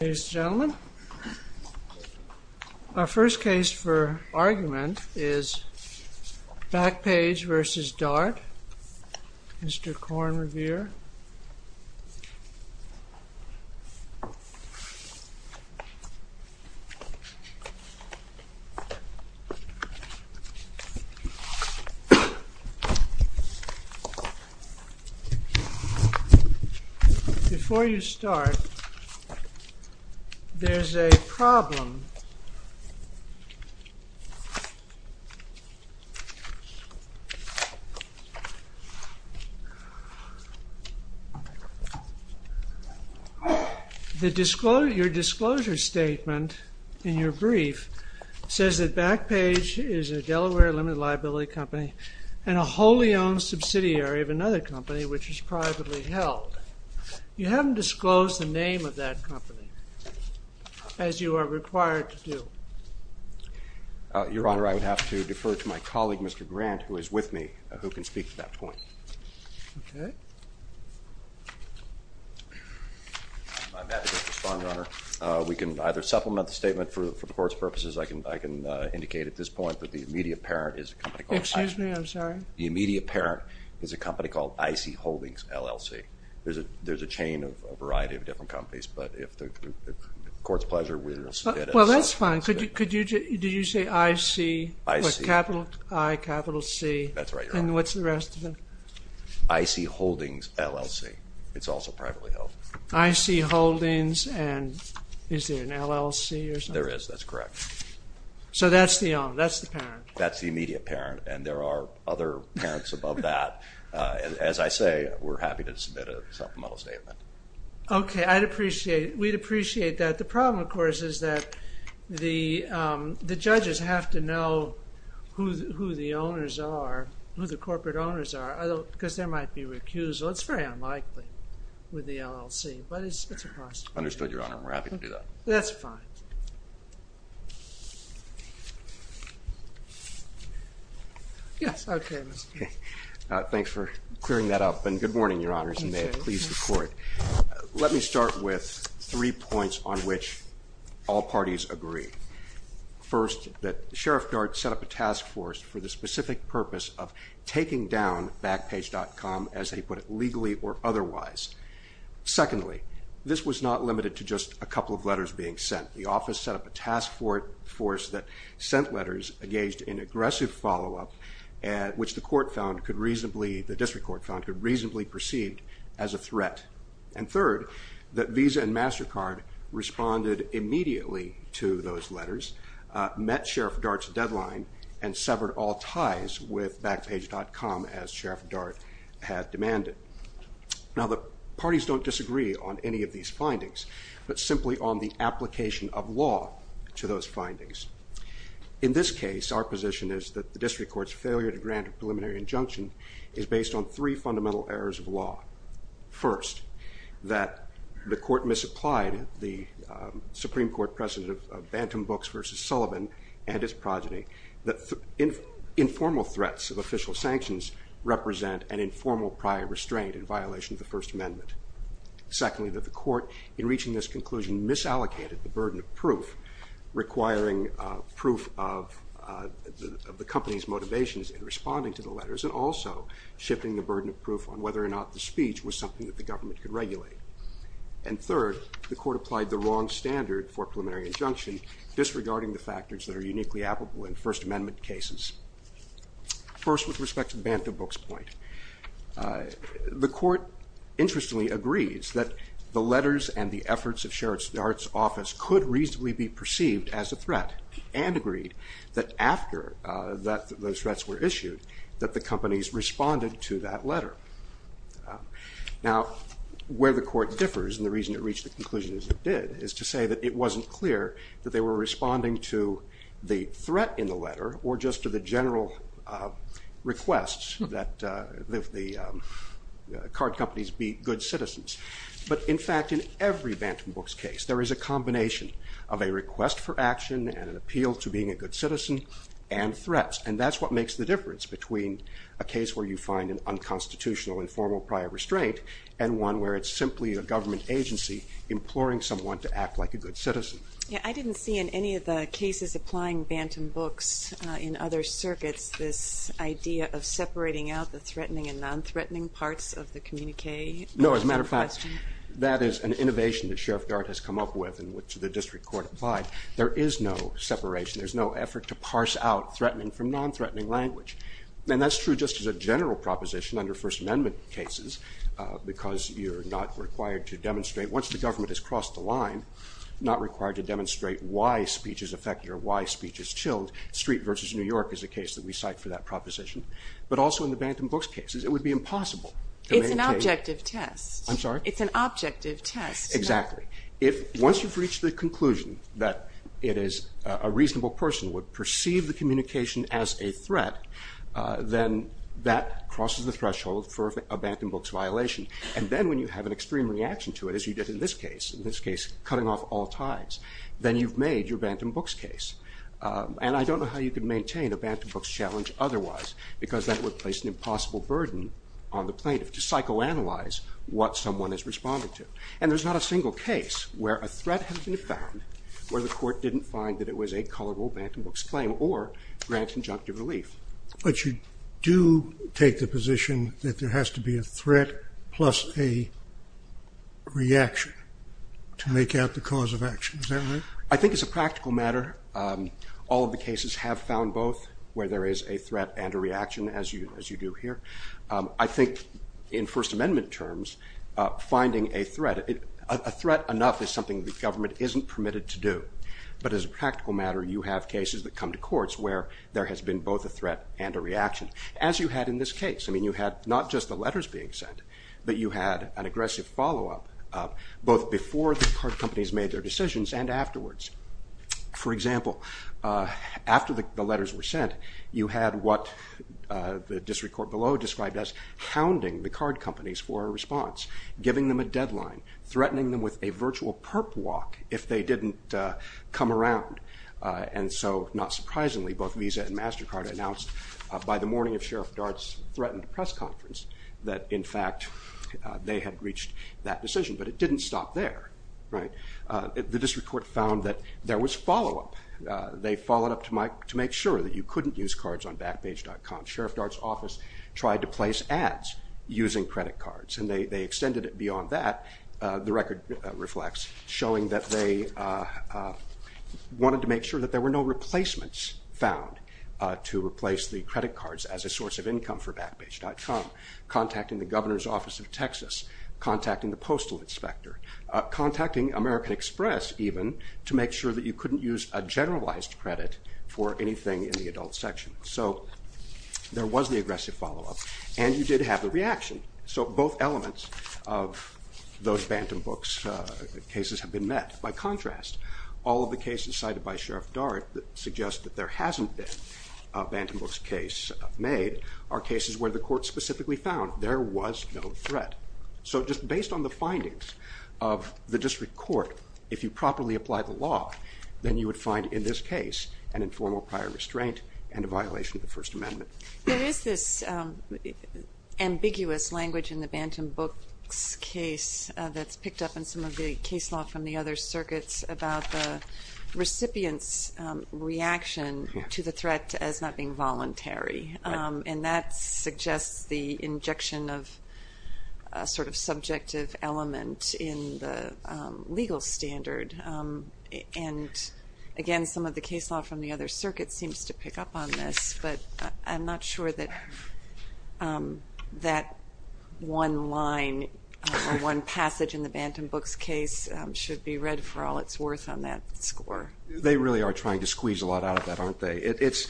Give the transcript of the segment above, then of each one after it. Ladies and gentlemen, our first case for argument is Backpage v. Dart, Mr. Korn Revere. Before you start, there's a problem. Your disclosure statement in your brief says that Backpage is a Delaware limited liability company and a wholly owned subsidiary of another company which is privately held. You haven't disclosed the name of that company, as you are required to do. Your Honor, I would have to defer to my colleague, Mr. Grant, who is with me, who can speak to that point. Okay. I'm happy to respond, Your Honor. We can either supplement the statement for the Court's purposes. I can indicate at this point that the immediate parent is a company called— Excuse me, I'm sorry. The immediate parent is a company called I.C. Holdings, LLC. There's a chain of a variety of different companies, but if the Court's pleasure, we will submit it. Well, that's fine. Did you say I.C.? I.C. With a capital I, capital C. That's right, Your Honor. And what's the rest of it? I.C. Holdings, LLC. It's also privately held. I.C. Holdings, and is there an LLC or something? There is. That's correct. So that's the parent? That's the immediate parent. And there are other parents above that. As I say, we're happy to submit a supplemental statement. Okay. I'd appreciate it. We'd appreciate that. The problem, of course, is that the judges have to know who the owners are, who the corporate owners are, because there might be recusal. It's very unlikely with the LLC, but it's a possibility. Understood, Your Honor. We're happy to do that. That's fine. Yes. Okay. Thanks for clearing that up, and good morning, Your Honors, and may it please the Court. Let me start with three points on which all parties agree. First, that Sheriff Dart set up a task force for the specific purpose of taking down Backpage.com, as they put it, legally or otherwise. Secondly, this was not limited to just a couple of letters being sent. The office set up a task force that sent letters engaged in aggressive follow-up, which the District Court found could reasonably perceive as a threat. And third, that Visa and MasterCard responded immediately to those letters, met Sheriff Dart's deadline, and severed all ties with Backpage.com, as Sheriff Dart had demanded. Now, the parties don't disagree on any of these findings, but simply on the application of law to those findings. In this case, our position is that the District Court's failure to grant a preliminary injunction is based on three fundamental errors of law. First, that the Court misapplied the Supreme Court precedent of Bantam Books v. Sullivan and its progeny, that informal threats of official sanctions represent an informal prior restraint in violation of the First Amendment. Secondly, that the Court, in reaching this conclusion, misallocated the burden of proof, requiring proof of the company's motivations in responding to the letters, and also shifting the burden of proof on whether or not the speech was something that the government could regulate. And third, the Court applied the wrong standard for a preliminary injunction, disregarding the factors that are uniquely applicable in First Amendment cases. First, with respect to the Bantam Books point, the Court interestingly agrees that the letters and the efforts of Sheriff Dart's office could reasonably be perceived as a threat, and agreed that after those threats were issued, that the companies responded to that letter. Now, where the Court differs, and the reason it reached the conclusion it did, is to say that it wasn't clear that they were responding to the threat in the letter, or just to the general request that the card companies be good citizens. But in fact, in every Bantam Books case, there is a combination of a request for action and an appeal to being a good citizen, and threats. And that's what makes the difference between a case where you find an unconstitutional informal prior restraint, and one where it's simply a government agency imploring someone to act like a good citizen. Yeah, I didn't see in any of the cases applying Bantam Books in other circuits this idea of separating out the threatening and non-threatening parts of the communique. No, as a matter of fact, that is an innovation that Sheriff Dart has come up with, and which the district court applied. There is no separation. There's no effort to parse out threatening from non-threatening language. And that's true just as a general proposition under First Amendment cases, because you're not required to demonstrate, once the government has crossed the line, not required to demonstrate why speech is affected or why speech is chilled. Street versus New York is a case that we cite for that proposition. But also in the Bantam Books cases, it would be impossible. It's an objective test. I'm sorry? It's an objective test. Exactly. Once you've reached the conclusion that it is a reasonable person would perceive the communication as a threat, then that crosses the threshold for a Bantam Books violation. And then when you have an extreme reaction to it, as you did in this case, in this case cutting off all ties, then you've made your Bantam Books case. And I don't know how you could maintain a Bantam Books challenge otherwise, because that would place an impossible burden on the plaintiff to psychoanalyze what someone is responding to. And there's not a single case where a threat has been found where the court didn't find that it was a culpable Bantam Books claim or grant injunctive relief. But you do take the position that there has to be a threat plus a reaction to make out the cause of action. Is that right? I think as a practical matter, all of the cases have found both where there is a threat and a reaction, as you do here. I think in First Amendment terms, finding a threat, a threat enough is something the government isn't permitted to do. But as a practical matter, you have cases that come to courts where there has been both a threat and a reaction, as you had in this case. I mean, you had not just the letters being sent, but you had an aggressive follow-up, both before the card companies made their decisions and afterwards. For example, after the letters were sent, you had what the district court below described as hounding the card companies for a response, giving them a deadline, threatening them with a virtual perp walk if they didn't come around. And so, not surprisingly, both Visa and MasterCard announced by the morning of Sheriff Dart's threatened press conference that, in fact, they had reached that decision. But it didn't stop there. The district court found that there was follow-up. They followed up to make sure that you couldn't use cards on Backpage.com. Sheriff Dart's office tried to place ads using credit cards, and they extended it beyond that. The record reflects showing that they wanted to make sure that there were no replacements found to replace the credit cards as a source of income for Backpage.com, contacting the governor's office of Texas, contacting the postal inspector, contacting American Express, even, to make sure that you couldn't use a generalized credit for anything in the adult section. So there was the aggressive follow-up, and you did have a reaction. So both elements of those Bantam Books cases have been met. By contrast, all of the cases cited by Sheriff Dart that suggest that there hasn't been a Bantam Books case made are cases where the court specifically found there was no threat. So just based on the findings of the district court, if you properly apply the law, then you would find in this case an informal prior restraint and a violation of the First Amendment. There is this ambiguous language in the Bantam Books case that's picked up in some of the case law from the other circuits about the recipient's reaction to the threat as not being voluntary. And that suggests the injection of a sort of subjective element in the legal standard. And again, some of the case law from the other circuits seems to pick up on this. But I'm not sure that that one line or one passage in the Bantam Books case should be read for all it's worth on that score. They really are trying to squeeze a lot out of that, aren't they? It's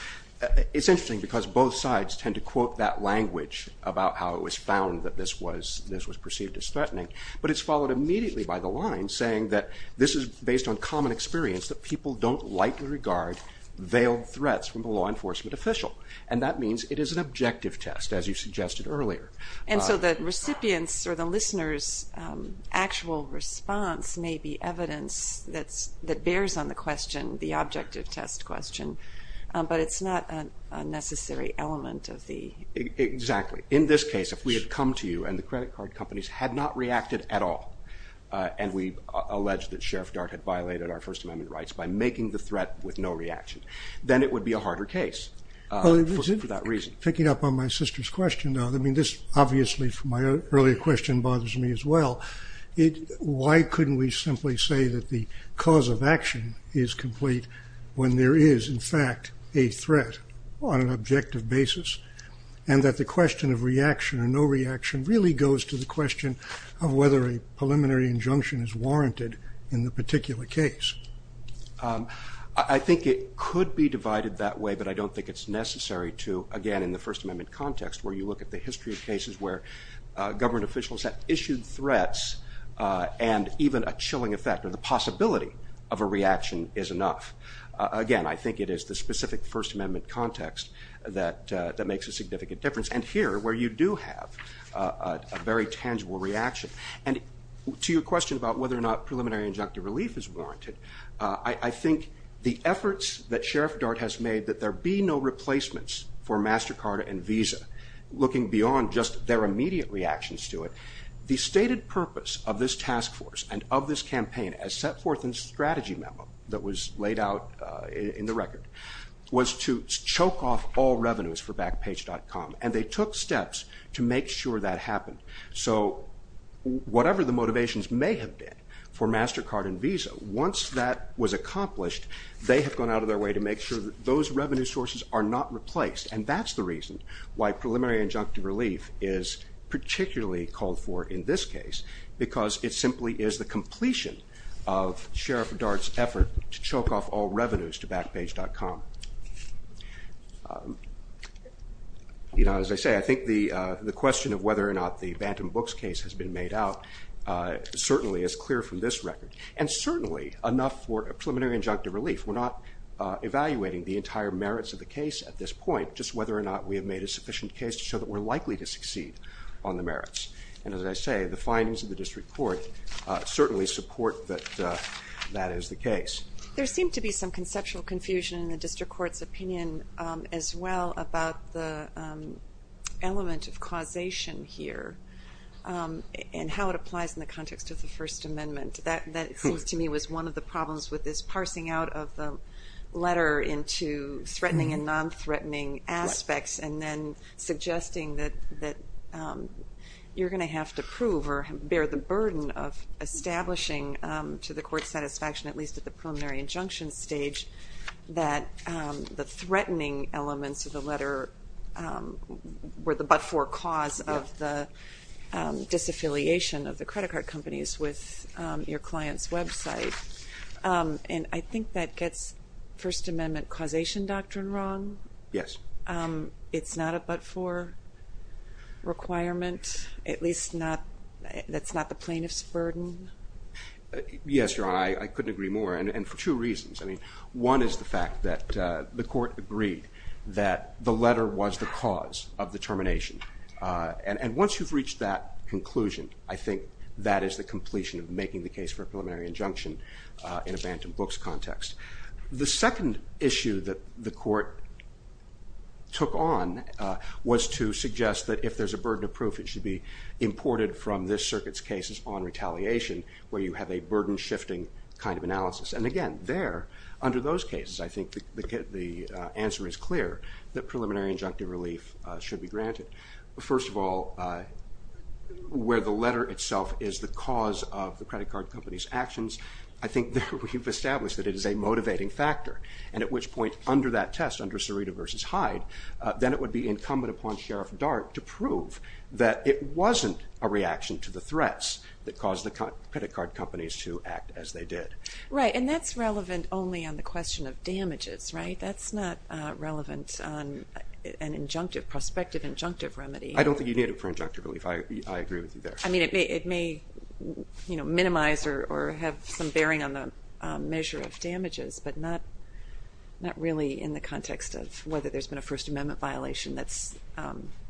interesting because both sides tend to quote that language about how it was found that this was perceived as threatening. But it's followed immediately by the line saying that this is based on common experience that people don't likely regard veiled threats from a law enforcement official. And that means it is an objective test, as you suggested earlier. And so the recipient's or the listener's actual response may be evidence that bears on the question, the objective test question. But it's not a necessary element of the... And we allege that Sheriff Dart had violated our First Amendment rights by making the threat with no reaction. Then it would be a harder case for that reason. Picking up on my sister's question, this obviously from my earlier question bothers me as well. Why couldn't we simply say that the cause of action is complete when there is, in fact, a threat on an objective basis? And that the question of reaction or no reaction really goes to the question of whether a preliminary injunction is warranted in the particular case. I think it could be divided that way, but I don't think it's necessary to, again, in the First Amendment context, where you look at the history of cases where government officials have issued threats and even a chilling effect or the possibility of a reaction is enough. Again, I think it is the specific First Amendment context that makes a significant difference. And here, where you do have a very tangible reaction. And to your question about whether or not preliminary injunctive relief is warranted, I think the efforts that Sheriff Dart has made that there be no replacements for MasterCard and Visa, looking beyond just their immediate reactions to it, the stated purpose of this task force and of this campaign as set forth in the strategy memo that was laid out in the record was to choke off all revenues for Backpage.com, and they took steps to make sure that happened. So whatever the motivations may have been for MasterCard and Visa, once that was accomplished, they have gone out of their way to make sure that those revenue sources are not replaced. And that's the reason why preliminary injunctive relief is particularly called for in this case, because it simply is the completion of Sheriff Dart's effort to choke off all revenues to Backpage.com. As I say, I think the question of whether or not the Bantam Books case has been made out certainly is clear from this record, and certainly enough for a preliminary injunctive relief. We're not evaluating the entire merits of the case at this point, just whether or not we have made a sufficient case to show that we're likely to succeed on the merits. And as I say, the findings of the district court certainly support that that is the case. There seemed to be some conceptual confusion in the district court's opinion as well about the element of causation here and how it applies in the context of the First Amendment. That seems to me was one of the problems with this parsing out of the letter into threatening and non-threatening aspects and then suggesting that you're going to have to prove or bear the burden of establishing to the court's satisfaction, at least at the preliminary injunction stage, that the threatening elements of the letter were the but-for cause of the disaffiliation of the credit card companies with your client's website. And I think that gets First Amendment causation doctrine wrong. Yes. It's not a but-for requirement? At least that's not the plaintiff's burden? Yes, Your Honor. I couldn't agree more, and for two reasons. One is the fact that the court agreed that the letter was the cause of the termination. And once you've reached that conclusion, I think that is the completion of making the case for a preliminary injunction in a Bantam Books context. The second issue that the court took on was to suggest that if there's a burden of proof, it should be imported from this circuit's cases on retaliation where you have a burden-shifting kind of analysis. And again, there, under those cases, I think the answer is clear that preliminary injunctive relief should be granted. First of all, where the letter itself is the cause of the credit card company's actions, I think that we've established that it is a motivating factor. And at which point, under that test, under Cerita v. Hyde, then it would be incumbent upon Sheriff Dart to prove that it wasn't a reaction to the threats that caused the credit card companies to act as they did. Right. And that's relevant only on the question of damages, right? That's not relevant on an injunctive, prospective injunctive remedy. I don't think you need it for injunctive relief. I agree with you there. I mean, it may minimize or have some bearing on the measure of damages, but not really in the context of whether there's been a First Amendment violation that's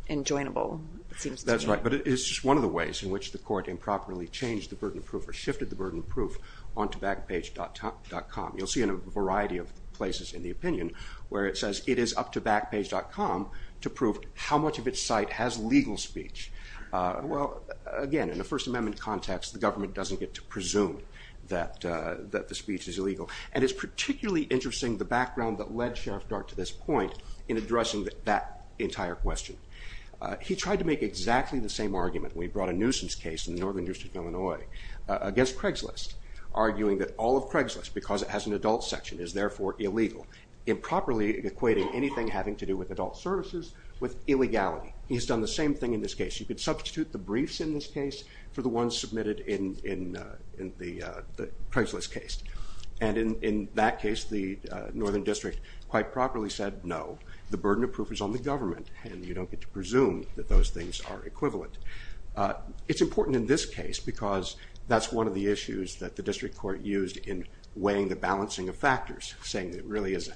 enjoinable, it seems to me. That's right. But it's just one of the ways in which the court improperly changed the burden of proof or shifted the burden of proof onto Backpage.com. You'll see in a variety of places in the opinion where it says it is up to Backpage.com to prove how much of its site has legal speech. Well, again, in a First Amendment context, the government doesn't get to presume that the speech is illegal. And it's particularly interesting the background that led Sheriff Dart to this point in addressing that entire question. He tried to make exactly the same argument when he brought a nuisance case in the Northern District of Illinois against Craigslist, arguing that all of Craigslist, because it has an adult section, is therefore illegal, improperly equating anything having to do with adult services with illegality. He's done the same thing in this case. You could substitute the briefs in this case for the ones submitted in the Craigslist case. And in that case, the Northern District quite properly said, no, the burden of proof is on the government, and you don't get to presume that those things are equivalent. It's important in this case because that's one of the issues that the district court used in weighing the balancing of factors, saying that it really is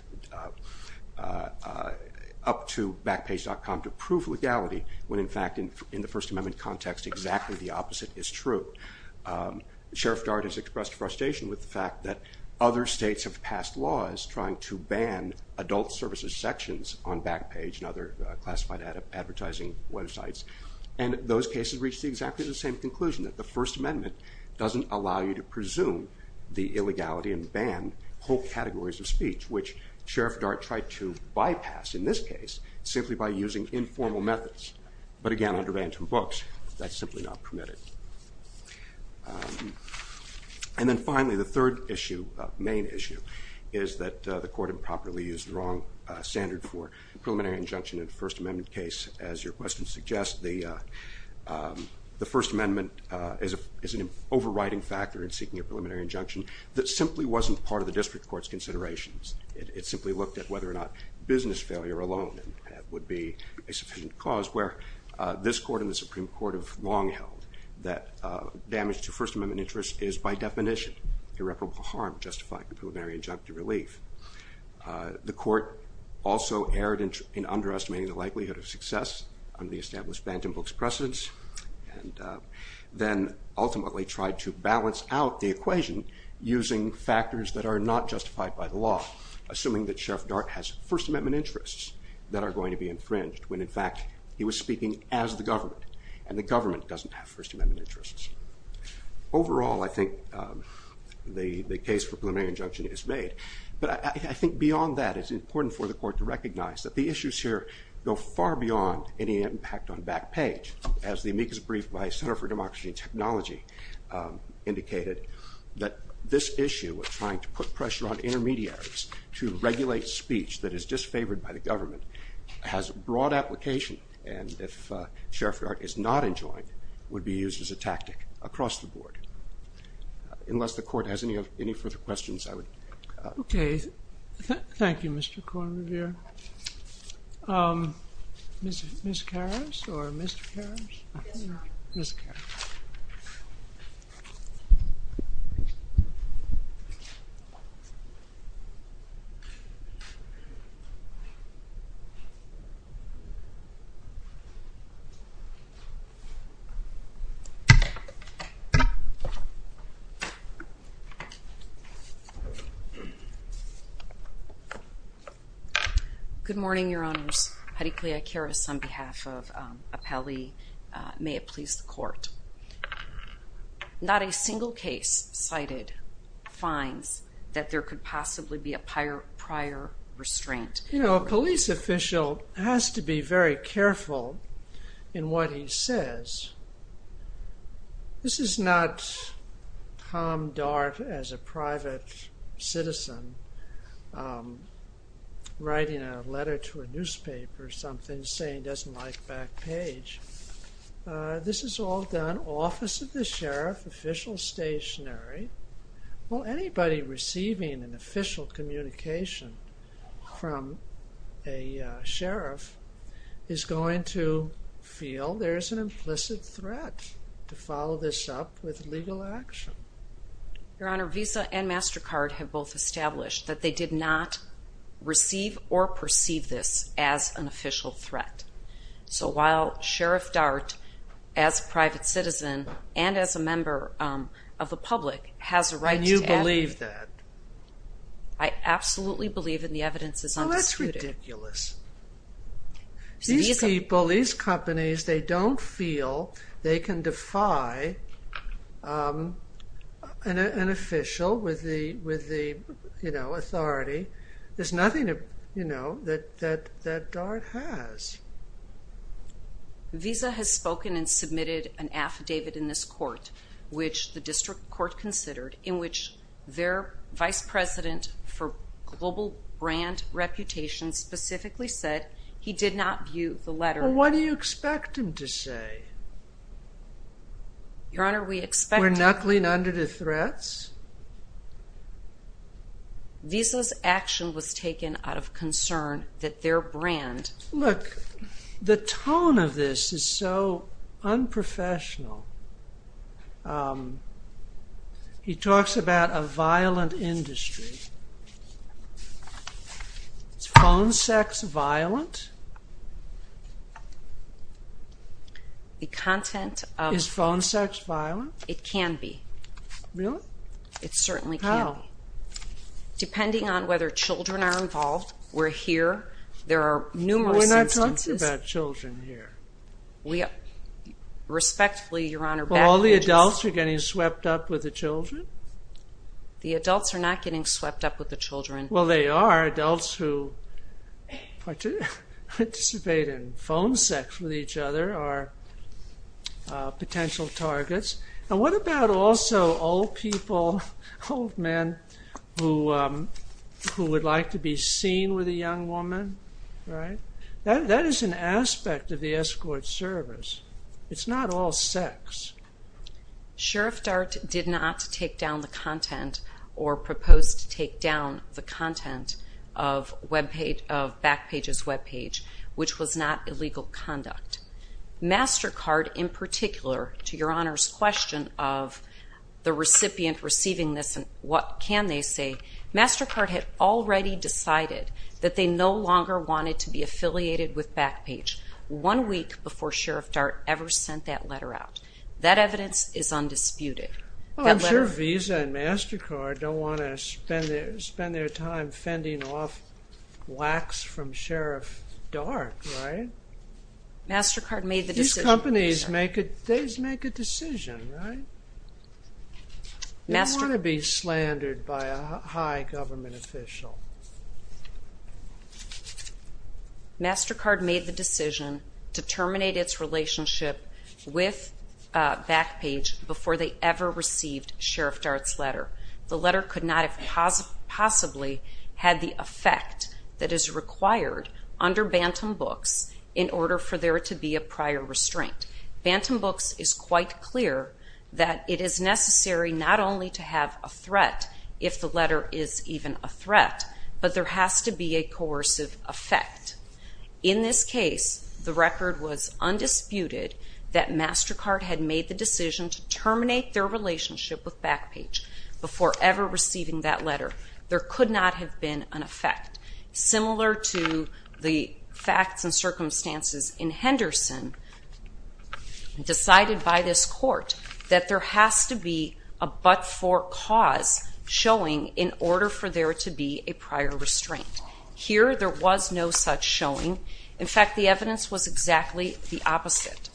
up to Backpage.com to prove legality when, in fact, in the First Amendment context, exactly the opposite is true. Sheriff Dart has expressed frustration with the fact that other states have passed laws trying to ban adult services sections on Backpage and other classified advertising websites. And those cases reached exactly the same conclusion, that the First Amendment doesn't allow you to presume the illegality and ban whole categories of speech, which Sheriff Dart tried to bypass in this case simply by using informal methods. But again, under Bantam Books, that's simply not permitted. And then finally, the third issue, main issue, is that the court improperly used the wrong standard for preliminary injunction in a First Amendment case, as your question suggests. The First Amendment is an overriding factor in seeking a preliminary injunction that simply wasn't part of the district court's considerations. It simply looked at whether or not business failure alone would be a sufficient cause, where this court and the Supreme Court have long held that damage to First Amendment interests is, by definition, irreparable harm justified in preliminary injunctive relief. The court also erred in underestimating the likelihood of success under the established Bantam Books precedence, and then ultimately tried to balance out the equation using factors that are not justified by the law, assuming that Sheriff Dart has First Amendment interests that are going to be infringed when, in fact, he was speaking as the government, and the government doesn't have First Amendment interests. Overall, I think the case for preliminary injunction is made. But I think beyond that, it's important for the court to recognize that the issues here go far beyond any impact on back page, as the amicus brief by Center for Democracy and Technology indicated, that this issue of trying to put pressure on intermediaries to regulate speech that is disfavored by the government has broad application, and if Sheriff Dart is not enjoined, would be used as a tactic across the board. Unless the court has any further questions, I would... Okay. Thank you, Mr. Kornrever. Ms. Karas or Mr. Karas? Ms. Karas. Good morning, Your Honors. Harikliya Karas on behalf of Apelli. May it please the court. Not a single case cited finds that there could possibly be a prior restraint. You know, a police official has to be very careful in what he says. This is not... Tom Dart, as a private citizen, writing a letter to a newspaper or something, saying he doesn't like back page. This is all done, office of the sheriff, official stationary. Well, anybody receiving an official communication from a sheriff is going to feel there's an implicit threat to follow this up with legal action. Your Honor, Visa and MasterCard have both established that they did not receive or perceive this as an official threat. So while Sheriff Dart, as a private citizen and as a member of the public, has a right to... And you believe that? I absolutely believe, and the evidence is undisputed. Well, that's ridiculous. These people, these companies, they don't feel they can defy an official with the authority. There's nothing that Dart has. Visa has spoken and submitted an affidavit in this court, which the district court considered, in which their vice president for global brand reputation specifically said he did not view the letter... Well, what do you expect him to say? Your Honor, we expect him... We're knuckling under the threats? Visa's action was taken out of concern that their brand... Look, the tone of this is so unprofessional. He talks about a violent industry. Is phone sex violent? The content of... Is phone sex violent? It can be. Really? It certainly can be. How? Depending on whether children are involved. We're here. There are numerous instances... We're not talking about children here. Respectfully, Your Honor... All the adults are getting swept up with the children? The adults are not getting swept up with the children. Well, they are. Adults who participate in phone sex with each other are potential targets. And what about also old people, old men, who would like to be seen with a young woman? That is an aspect of the escort service. It's not all sex. Sheriff Dart did not take down the content or propose to take down the content of Backpage's webpage, which was not illegal conduct. MasterCard, in particular, to Your Honor's question of the recipient receiving this and what can they say, MasterCard had already decided that they no longer wanted to be affiliated with Backpage one week before Sheriff Dart ever sent that letter out. That evidence is undisputed. Well, I'm sure Visa and MasterCard don't want to spend their time fending off wax from Sheriff Dart, right? MasterCard made the decision. These companies make a decision, right? They don't want to be slandered by a high government official. MasterCard made the decision to terminate its relationship with Backpage before they ever received Sheriff Dart's letter. The letter could not have possibly had the effect that is required under Bantam Books in order for there to be a prior restraint. Bantam Books is quite clear that it is necessary not only to have a threat if the letter is even a threat, but there has to be a coercive effect. In this case, the record was undisputed that MasterCard had made the decision to terminate their relationship with Backpage before ever receiving that letter. There could not have been an effect. Similar to the facts and circumstances in Henderson, decided by this court that there has to be a but-for cause showing in order for there to be a prior restraint. Here, there was no such showing. In fact, the evidence was exactly the opposite,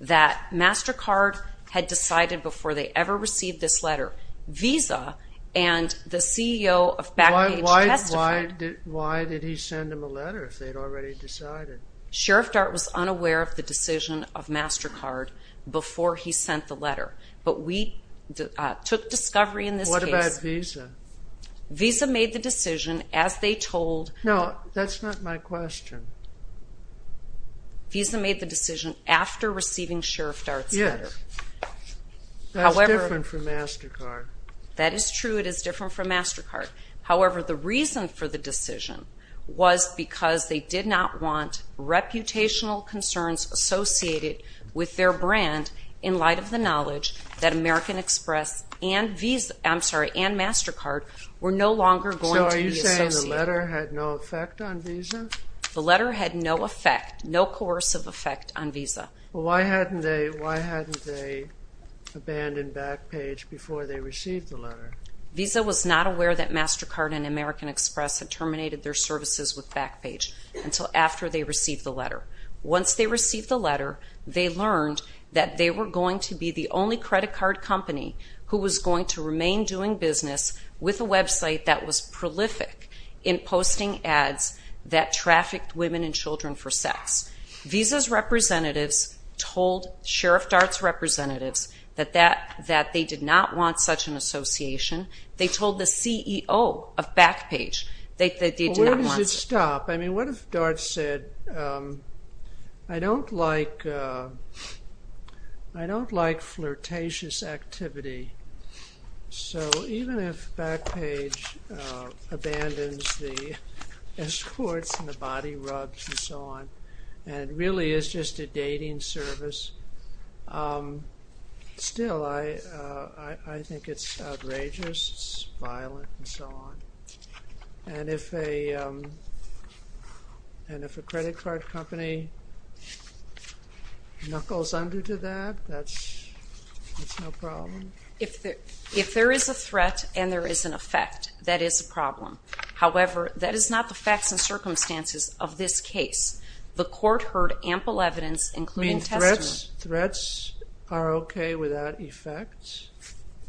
that MasterCard had decided before they ever received this letter. Visa and the CEO of Backpage testified... Why did he send them a letter if they'd already decided? Sheriff Dart was unaware of the decision of MasterCard before he sent the letter. But we took discovery in this case... What about Visa? Visa made the decision as they told... No, that's not my question. Visa made the decision after receiving Sheriff Dart's letter. Yes. That's different from MasterCard. That is true, it is different from MasterCard. However, the reason for the decision was because they did not want reputational concerns associated with their brand in light of the knowledge that American Express and MasterCard were no longer going to be associated. So are you saying the letter had no effect on Visa? The letter had no effect, no coercive effect on Visa. Why hadn't they abandoned Backpage before they received the letter? Visa was not aware that MasterCard and American Express had terminated their services with Backpage until after they received the letter. Once they received the letter, they learned that they were going to be the only credit card company who was going to remain doing business with a website that was prolific in posting ads that trafficked women and children for sex. Visa's representatives told Sheriff Dart's representatives that they did not want such an association. They told the CEO of Backpage that they did not want... Where does it stop? I mean, what if Dart said, I don't like flirtatious activity. So even if Backpage abandons the escorts and the body rugs and so on, and really is just a dating service, still I think it's outrageous, it's violent, and so on. And if a credit card company knuckles under to that, that's no problem? If there is a threat and there is an effect, that is a problem. However, that is not the facts and circumstances of this case. The court heard ample evidence, including testimony. Threats are okay without effects?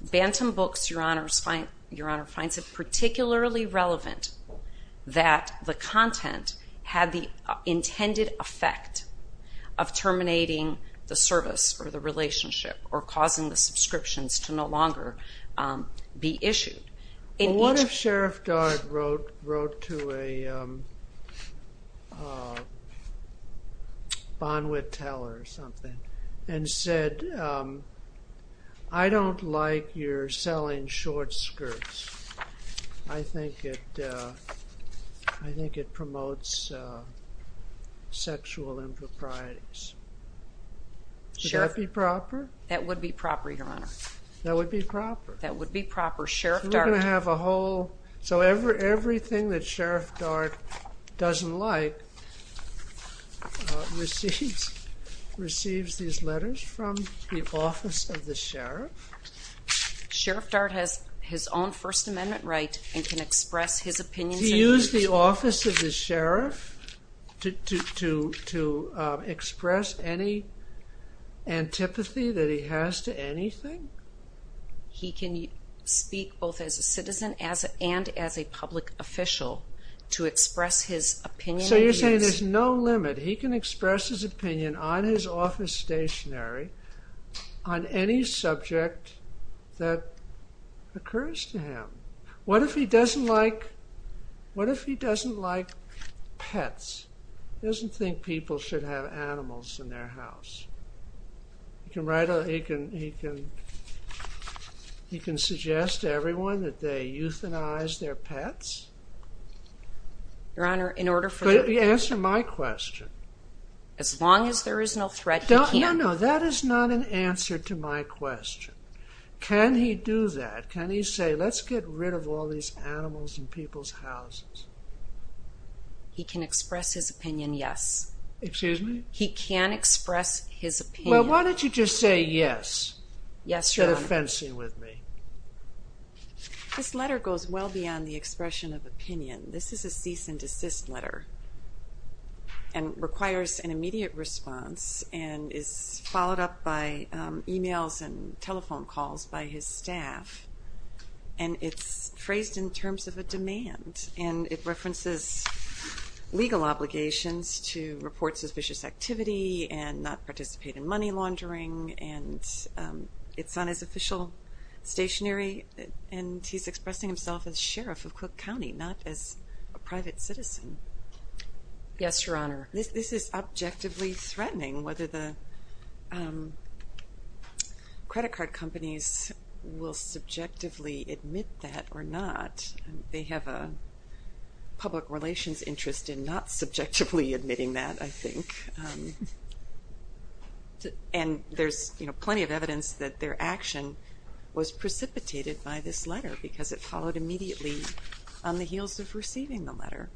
Bantam Books, Your Honor, finds it particularly relevant that the content had the intended effect of terminating the service or the relationship or causing the subscriptions to no longer be issued. What if Sheriff Dart wrote to a bond with teller or something and said, I don't like your selling short skirts. I think it promotes sexual improprieties. Would that be proper? That would be proper, Your Honor. That would be proper. That would be proper. So we're going to have a whole... So everything that Sheriff Dart doesn't like receives these letters from the Office of the Sheriff. Sheriff Dart has his own First Amendment right and can express his opinions... He used the Office of the Sheriff to express any antipathy that he has to anything? He can speak both as a citizen and as a public official to express his opinion... So you're saying there's no limit. He can express his opinion on his office stationary on any subject that occurs to him. What if he doesn't like pets? He doesn't think people should have animals in their house. He can suggest to everyone that they euthanize their pets? Your Honor, in order for... Answer my question. As long as there is no threat to him... No, no, that is not an answer to my question. Can he do that? Can he say, let's get rid of all these animals in people's houses? He can express his opinion, yes. Excuse me? He can express his opinion. Well, why don't you just say yes? Yes, Your Honor. Instead of fencing with me. This letter goes well beyond the expression of opinion. This is a cease and desist letter and requires an immediate response and is followed up by e-mails and telephone calls by his staff. And it's phrased in terms of a demand, and it references legal obligations to report suspicious activity and not participate in money laundering, and it's on his official stationery, and he's expressing himself as sheriff of Cook County, not as a private citizen. Yes, Your Honor. This is objectively threatening, whether the credit card companies will subjectively admit that or not. They have a public relations interest in not subjectively admitting that, I think. And there's plenty of evidence that their action was precipitated by this letter because it followed immediately on the heels of receiving the letter.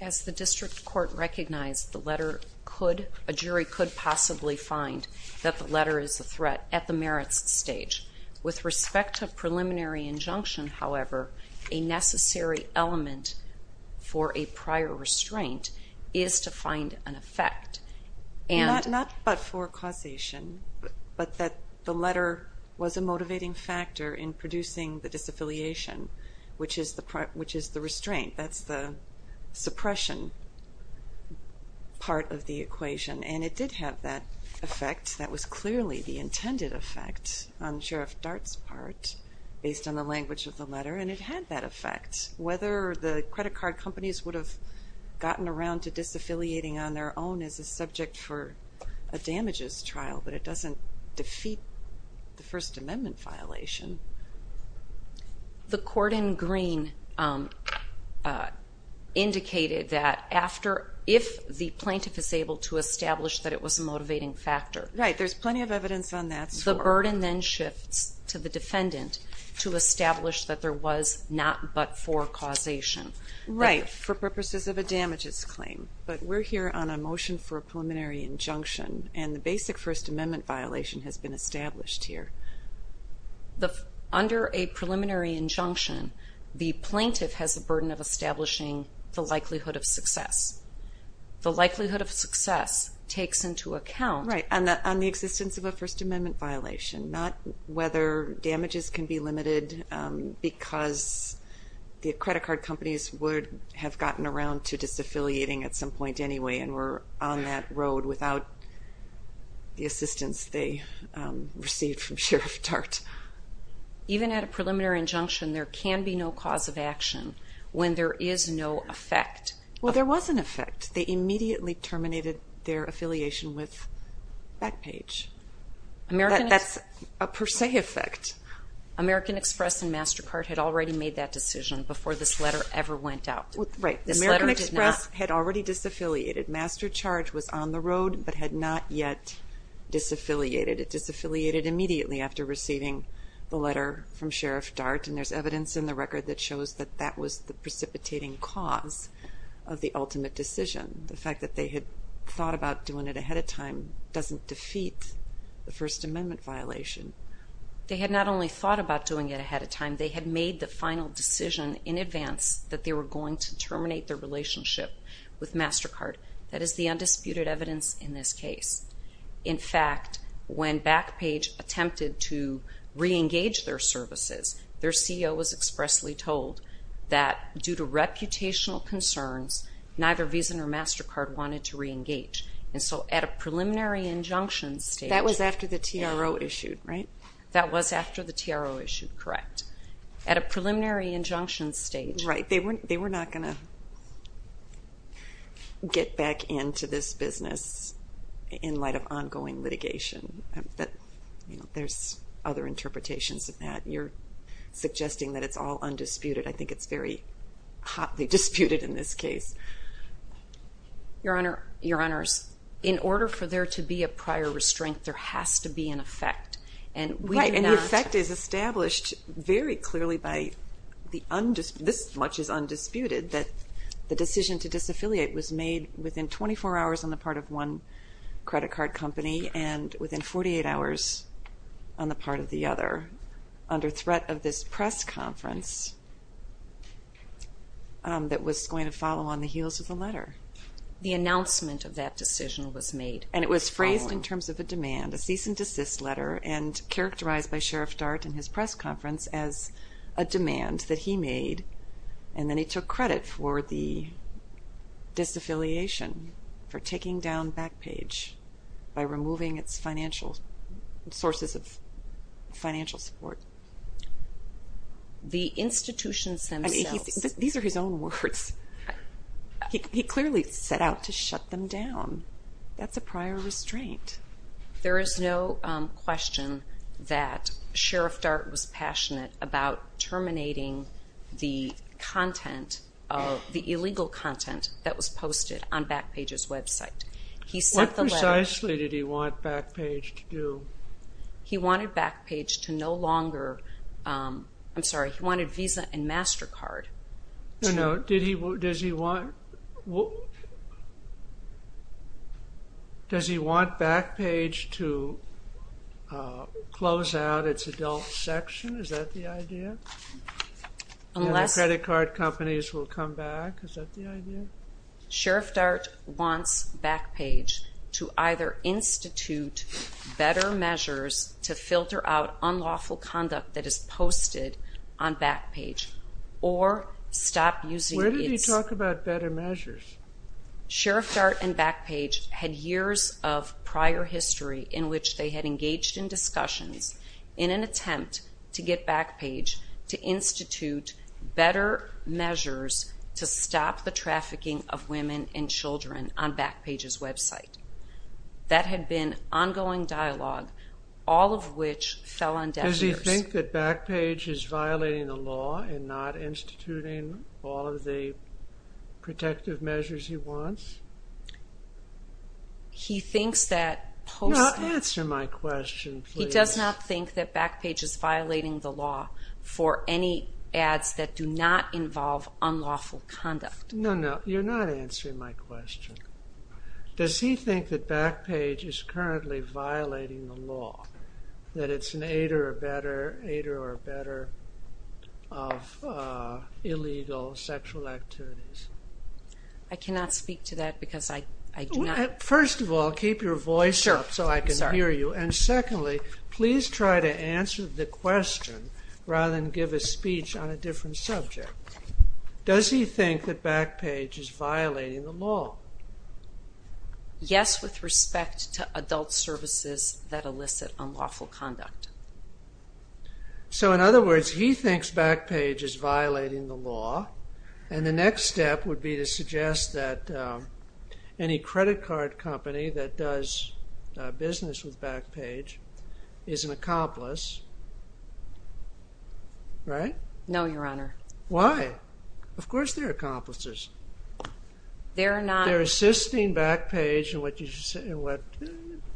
As the district court recognized, a jury could possibly find that the letter is a threat at the merits stage. With respect to a preliminary injunction, however, a necessary element for a prior restraint is to find an effect. Not but for causation, but that the letter was a motivating factor in producing the disaffiliation, which is the restraint. That's the suppression part of the equation. And it did have that effect. That was clearly the intended effect on Sheriff Dart's part, based on the language of the letter, and it had that effect. Whether the credit card companies would have gotten around to disaffiliating on their own as a subject for a damages trial, but it doesn't defeat the First Amendment violation. The court in Green indicated that if the plaintiff is able to establish that it was a motivating factor, Right, there's plenty of evidence on that score. the burden then shifts to the defendant to establish that there was not but for causation. Right, for purposes of a damages claim. But we're here on a motion for a preliminary injunction, and the basic First Amendment violation has been established here. Under a preliminary injunction, the plaintiff has the burden of establishing the likelihood of success. The likelihood of success takes into account Right, on the existence of a First Amendment violation. Not whether damages can be limited because the credit card companies would have gotten around to disaffiliating at some point anyway, and were on that road without the assistance they received from Sheriff Dart. Even at a preliminary injunction, there can be no cause of action when there is no effect. Well, there was an effect. They immediately terminated their affiliation with Backpage. That's a per se effect. American Express and MasterCard had already made that decision before this letter ever went out. Right, American Express had already disaffiliated. MasterCharge was on the road, but had not yet disaffiliated. It disaffiliated immediately after receiving the letter from Sheriff Dart, and there's evidence in the record that shows that that was the precipitating cause of the ultimate decision. The fact that they had thought about doing it ahead of time doesn't defeat the First Amendment violation. They had not only thought about doing it ahead of time, they had made the final decision in advance that they were going to terminate their relationship with MasterCard. That is the undisputed evidence in this case. In fact, when Backpage attempted to re-engage their services, their CEO was expressly told that due to reputational concerns, neither Visa nor MasterCard wanted to re-engage. And so at a preliminary injunction stage... That was after the TRO issued, right? That was after the TRO issued, correct. At a preliminary injunction stage... Right, they were not going to get back into this business in light of ongoing litigation. There's other interpretations of that. You're suggesting that it's all undisputed. I think it's very hotly disputed in this case. Your Honor, in order for there to be a prior restraint, there has to be an effect. Right, and the effect is established very clearly by the undisputed... This much is undisputed, that the decision to disaffiliate was made within 24 hours on the part of one credit card company and within 48 hours on the part of the other, under threat of this press conference that was going to follow on the heels of the letter. The announcement of that decision was made. And it was phrased in terms of a demand, a cease and desist letter, and characterized by Sheriff Dart in his press conference as a demand that he made. And then he took credit for the disaffiliation, for taking down Backpage, by removing its sources of financial support. The institutions themselves. These are his own words. He clearly set out to shut them down. That's a prior restraint. There is no question that Sheriff Dart was passionate about terminating the content, the illegal content that was posted on Backpage's website. He sent the letter... What precisely did he want Backpage to do? He wanted Backpage to no longer... I'm sorry, he wanted Visa and MasterCard. No, no, does he want... Does he want Backpage to close out its adult section? Is that the idea? Credit card companies will come back? Is that the idea? Sheriff Dart wants Backpage to either institute better measures to filter out unlawful conduct that is posted on Backpage, or stop using its... Where did he talk about better measures? Sheriff Dart and Backpage had years of prior history in which they had engaged in discussions in an attempt to get Backpage to institute better measures to stop the trafficking of women and children on Backpage's website. That had been ongoing dialogue, all of which fell on deaf ears. Does he think that Backpage is violating the law and not instituting all of the protective measures he wants? He thinks that... Answer my question, please. He does not think that Backpage is violating the law for any ads that do not involve unlawful conduct. No, no, you're not answering my question. Does he think that Backpage is currently violating the law, that it's an aid or a better of illegal sexual activities? I cannot speak to that because I do not... First of all, keep your voice up so I can hear you. And secondly, please try to answer the question rather than give a speech on a different subject. Does he think that Backpage is violating the law? Yes, with respect to adult services that elicit unlawful conduct. So in other words, he thinks Backpage is violating the law, and the next step would be to suggest that any credit card company that does business with Backpage is an accomplice, right? No, Your Honor. Why? Of course they're accomplices. They're assisting Backpage in what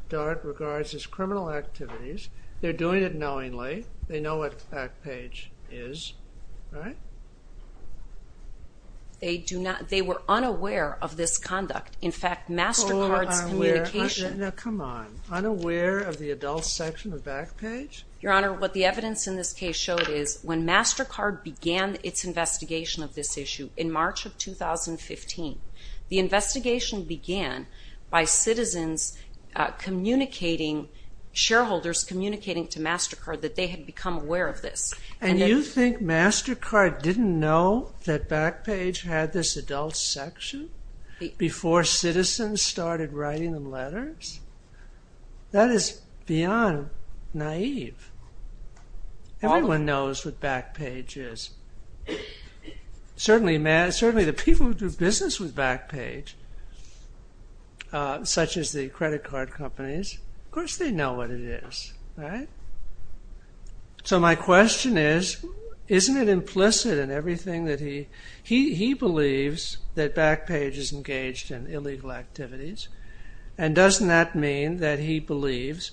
DART regards as criminal activities. They're doing it knowingly. They know what Backpage is, right? They were unaware of this conduct. In fact, MasterCard's communication... Come on. Unaware of the adult section of Backpage? Your Honor, what the evidence in this case showed is when MasterCard began its investigation of this issue in March of 2015, the investigation began by citizens communicating, shareholders communicating to MasterCard that they had become aware of this. And you think MasterCard didn't know that Backpage had this adult section before citizens started writing them letters? That is beyond naive. Everyone knows what Backpage is. Certainly the people who do business with Backpage, such as the credit card companies, of course they know what it is, right? So my question is, isn't it implicit in everything that he... that Backpage is engaged in illegal activities? And doesn't that mean that he believes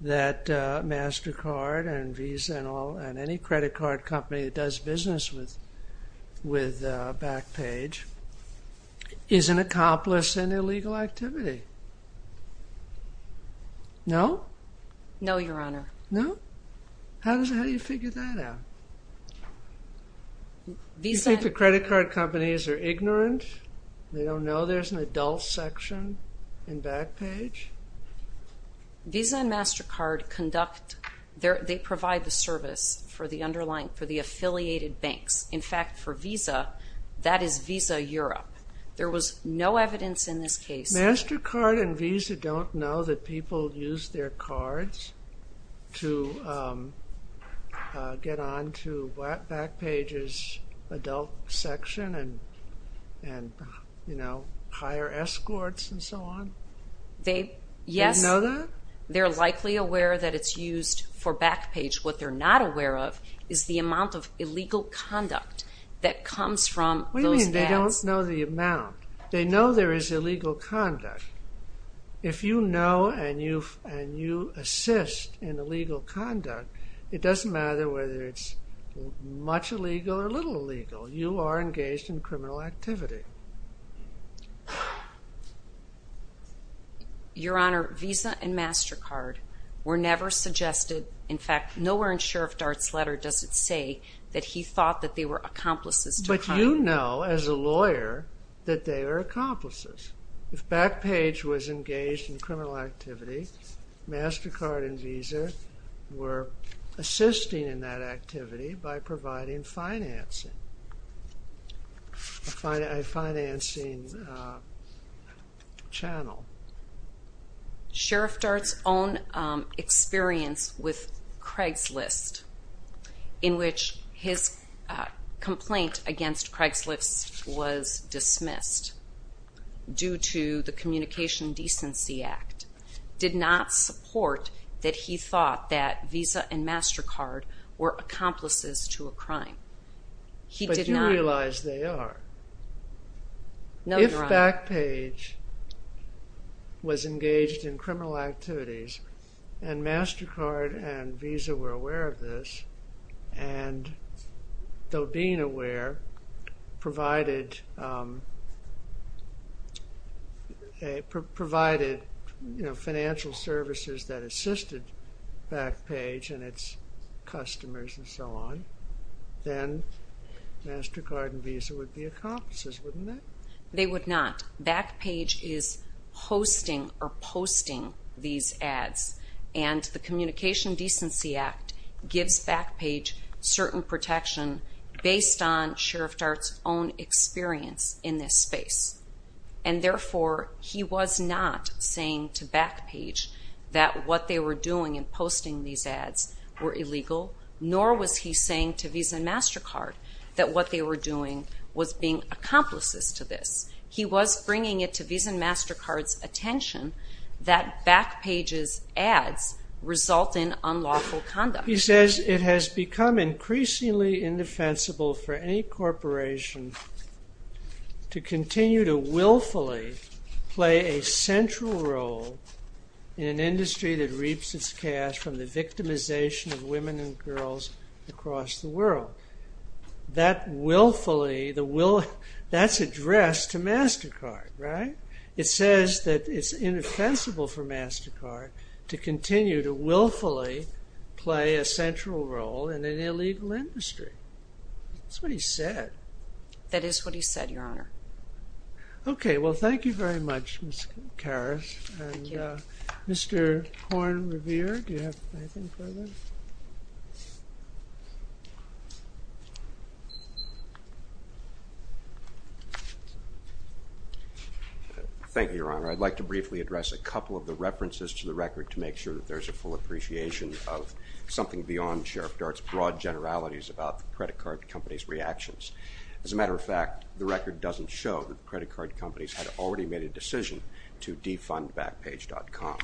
that MasterCard and Visa and all, and any credit card company that does business with Backpage is an accomplice in illegal activity? No? No, Your Honor. No? How do you figure that out? Visa... You think the credit card companies are ignorant? They don't know there's an adult section in Backpage? Visa and MasterCard conduct... they provide the service for the affiliated banks. In fact, for Visa, that is Visa Europe. There was no evidence in this case... MasterCard and Visa don't know that people use their cards to get on to Backpage's adult section and, you know, hire escorts and so on? Yes. They know that? They're likely aware that it's used for Backpage. What they're not aware of is the amount of illegal conduct that comes from those ads. What do you mean they don't know the amount? They know there is illegal conduct. If you know and you assist in illegal conduct, it doesn't matter whether it's much illegal or little illegal. You are engaged in criminal activity. Your Honor, Visa and MasterCard were never suggested. In fact, nowhere in Sheriff Dart's letter does it say that he thought that they were accomplices to crime. But you know, as a lawyer, that they are accomplices. If Backpage was engaged in criminal activity, MasterCard and Visa were assisting in that activity by providing financing, a financing channel. Sheriff Dart's own experience with Craigslist, in which his complaint against Craigslist was dismissed due to the Communication Decency Act, did not support that he thought that Visa and MasterCard were accomplices to a crime. He did not. But you realize they are. No, Your Honor. If Backpage was engaged in criminal activities and MasterCard and Visa were aware of this, and though being aware provided financial services that assisted Backpage and its customers and so on, then MasterCard and Visa would be accomplices, wouldn't they? They would not. Backpage is hosting or posting these ads, and the Communication Decency Act gives Backpage certain protection based on Sheriff Dart's own experience in this space. And therefore, he was not saying to Backpage that what they were doing in posting these ads were illegal, nor was he saying to Visa and MasterCard that what they were doing was being accomplices to this. He was bringing it to Visa and MasterCard's attention that Backpage's ads result in unlawful conduct. He says, It has become increasingly indefensible for any corporation to continue to willfully play a central role in an industry that reaps its cash from the victimization of women and girls across the world. That willfully, that's addressed to MasterCard, right? It says that it's indefensible for MasterCard to continue to willfully play a central role in an illegal industry. That's what he said. That is what he said, Your Honor. Okay, well, thank you very much, Ms. Karas. Thank you. And Mr. Horne-Revere, do you have anything further? Thank you, Your Honor. I'd like to briefly address a couple of the references to the record to make sure that there's a full appreciation of something beyond Sheriff Dart's broad generalities about the credit card companies' reactions. As a matter of fact, the record doesn't show that credit card companies had already made a decision to defund Backpage.com.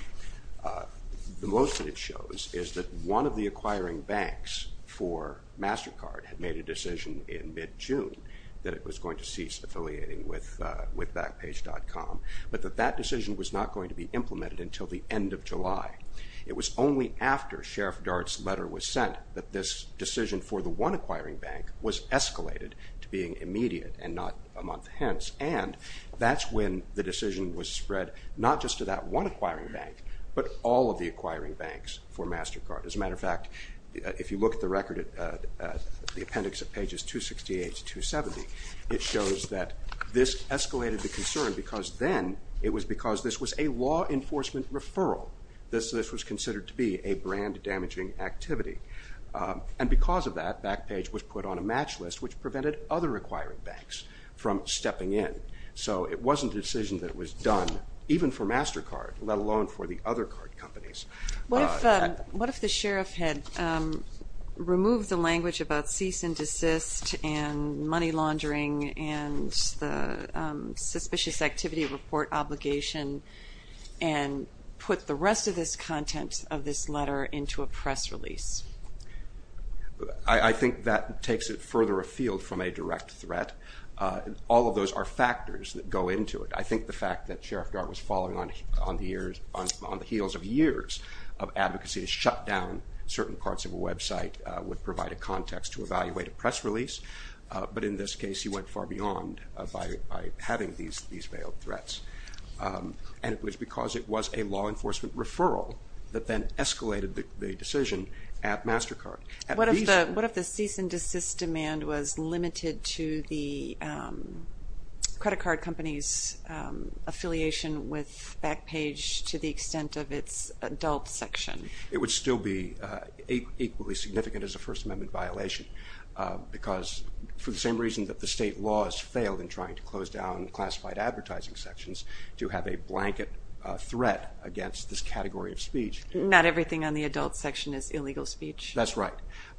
The most that it shows is that one of the acquiring banks for MasterCard had made a decision in mid-June that it was going to cease affiliating with Backpage.com, but that that decision was not going to be implemented until the end of July. It was only after Sheriff Dart's letter was sent that this decision for the one acquiring bank was escalated to being immediate and not a month hence, and that's when the decision was spread not just to that one acquiring bank, but all of the acquiring banks for MasterCard. As a matter of fact, if you look at the record, the appendix of pages 268 to 270, it shows that this escalated the concern because then it was because this was a law enforcement referral. This was considered to be a brand-damaging activity. And because of that, Backpage was put on a match list which prevented other acquiring banks from stepping in. So it wasn't a decision that was done even for MasterCard, let alone for the other card companies. What if the sheriff had removed the language about cease and desist and money laundering and the suspicious activity report obligation and put the rest of this content of this letter into a press release? I think that takes it further afield from a direct threat. All of those are factors that go into it. I think the fact that Sheriff Dart was falling on the heels of years of advocacy to shut down certain parts of a website would provide a context to evaluate a press release, but in this case he went far beyond by having these veiled threats. And it was because it was a law enforcement referral that then escalated the decision at MasterCard. What if the cease and desist demand was limited to the credit card company's affiliation with Backpage to the extent of its adult section? It would still be equally significant as a First Amendment violation because for the same reason that the state laws failed in trying to close down classified advertising sections to have a blanket threat against this category of speech. Not everything on the adult section is illegal speech. That's right,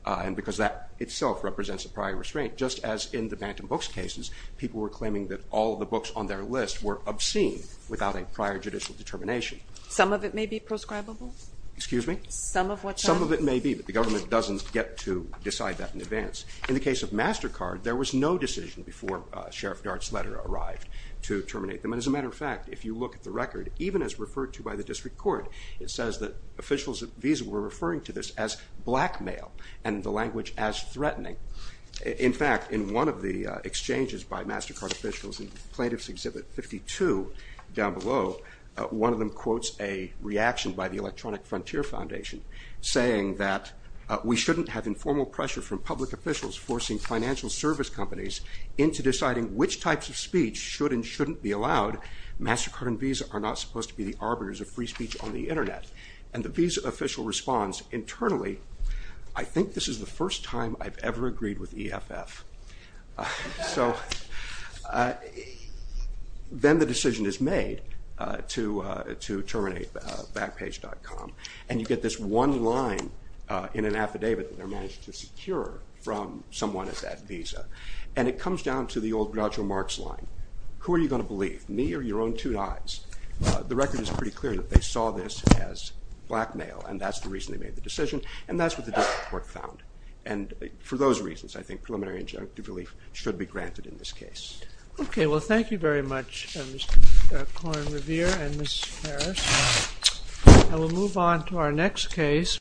and because that itself represents a prior restraint. Just as in the Bantam Books cases, people were claiming that all the books on their list were obscene without a prior judicial determination. Some of it may be proscribable? Excuse me? Some of what's on it? Some of it may be, but the government doesn't get to decide that in advance. In the case of MasterCard, there was no decision before Sheriff Dart's letter arrived to terminate them. And as a matter of fact, if you look at the record, even as referred to by the district court, it says that officials at Visa were referring to this as blackmail and the language as threatening. In fact, in one of the exchanges by MasterCard officials in Plaintiff's Exhibit 52 down below, one of them quotes a reaction by the Electronic Frontier Foundation saying that we shouldn't have informal pressure from public officials forcing financial service companies into deciding which types of speech should and shouldn't be allowed. MasterCard and Visa are not supposed to be the arbiters of free speech on the Internet. And the Visa official responds internally, I think this is the first time I've ever agreed with EFF. So then the decision is made to terminate Backpage.com and you get this one line in an affidavit that they managed to secure from someone at Visa. And it comes down to the old Groucho Marx line. Who are you going to believe, me or your own two eyes? The record is pretty clear that they saw this as blackmail and that's the reason they made the decision and that's what the district court found. And for those reasons, I think preliminary injunctive relief should be granted in this case. Okay, well thank you very much, Mr. Cohen-Revere and Ms. Harris. And we'll move on to our next case.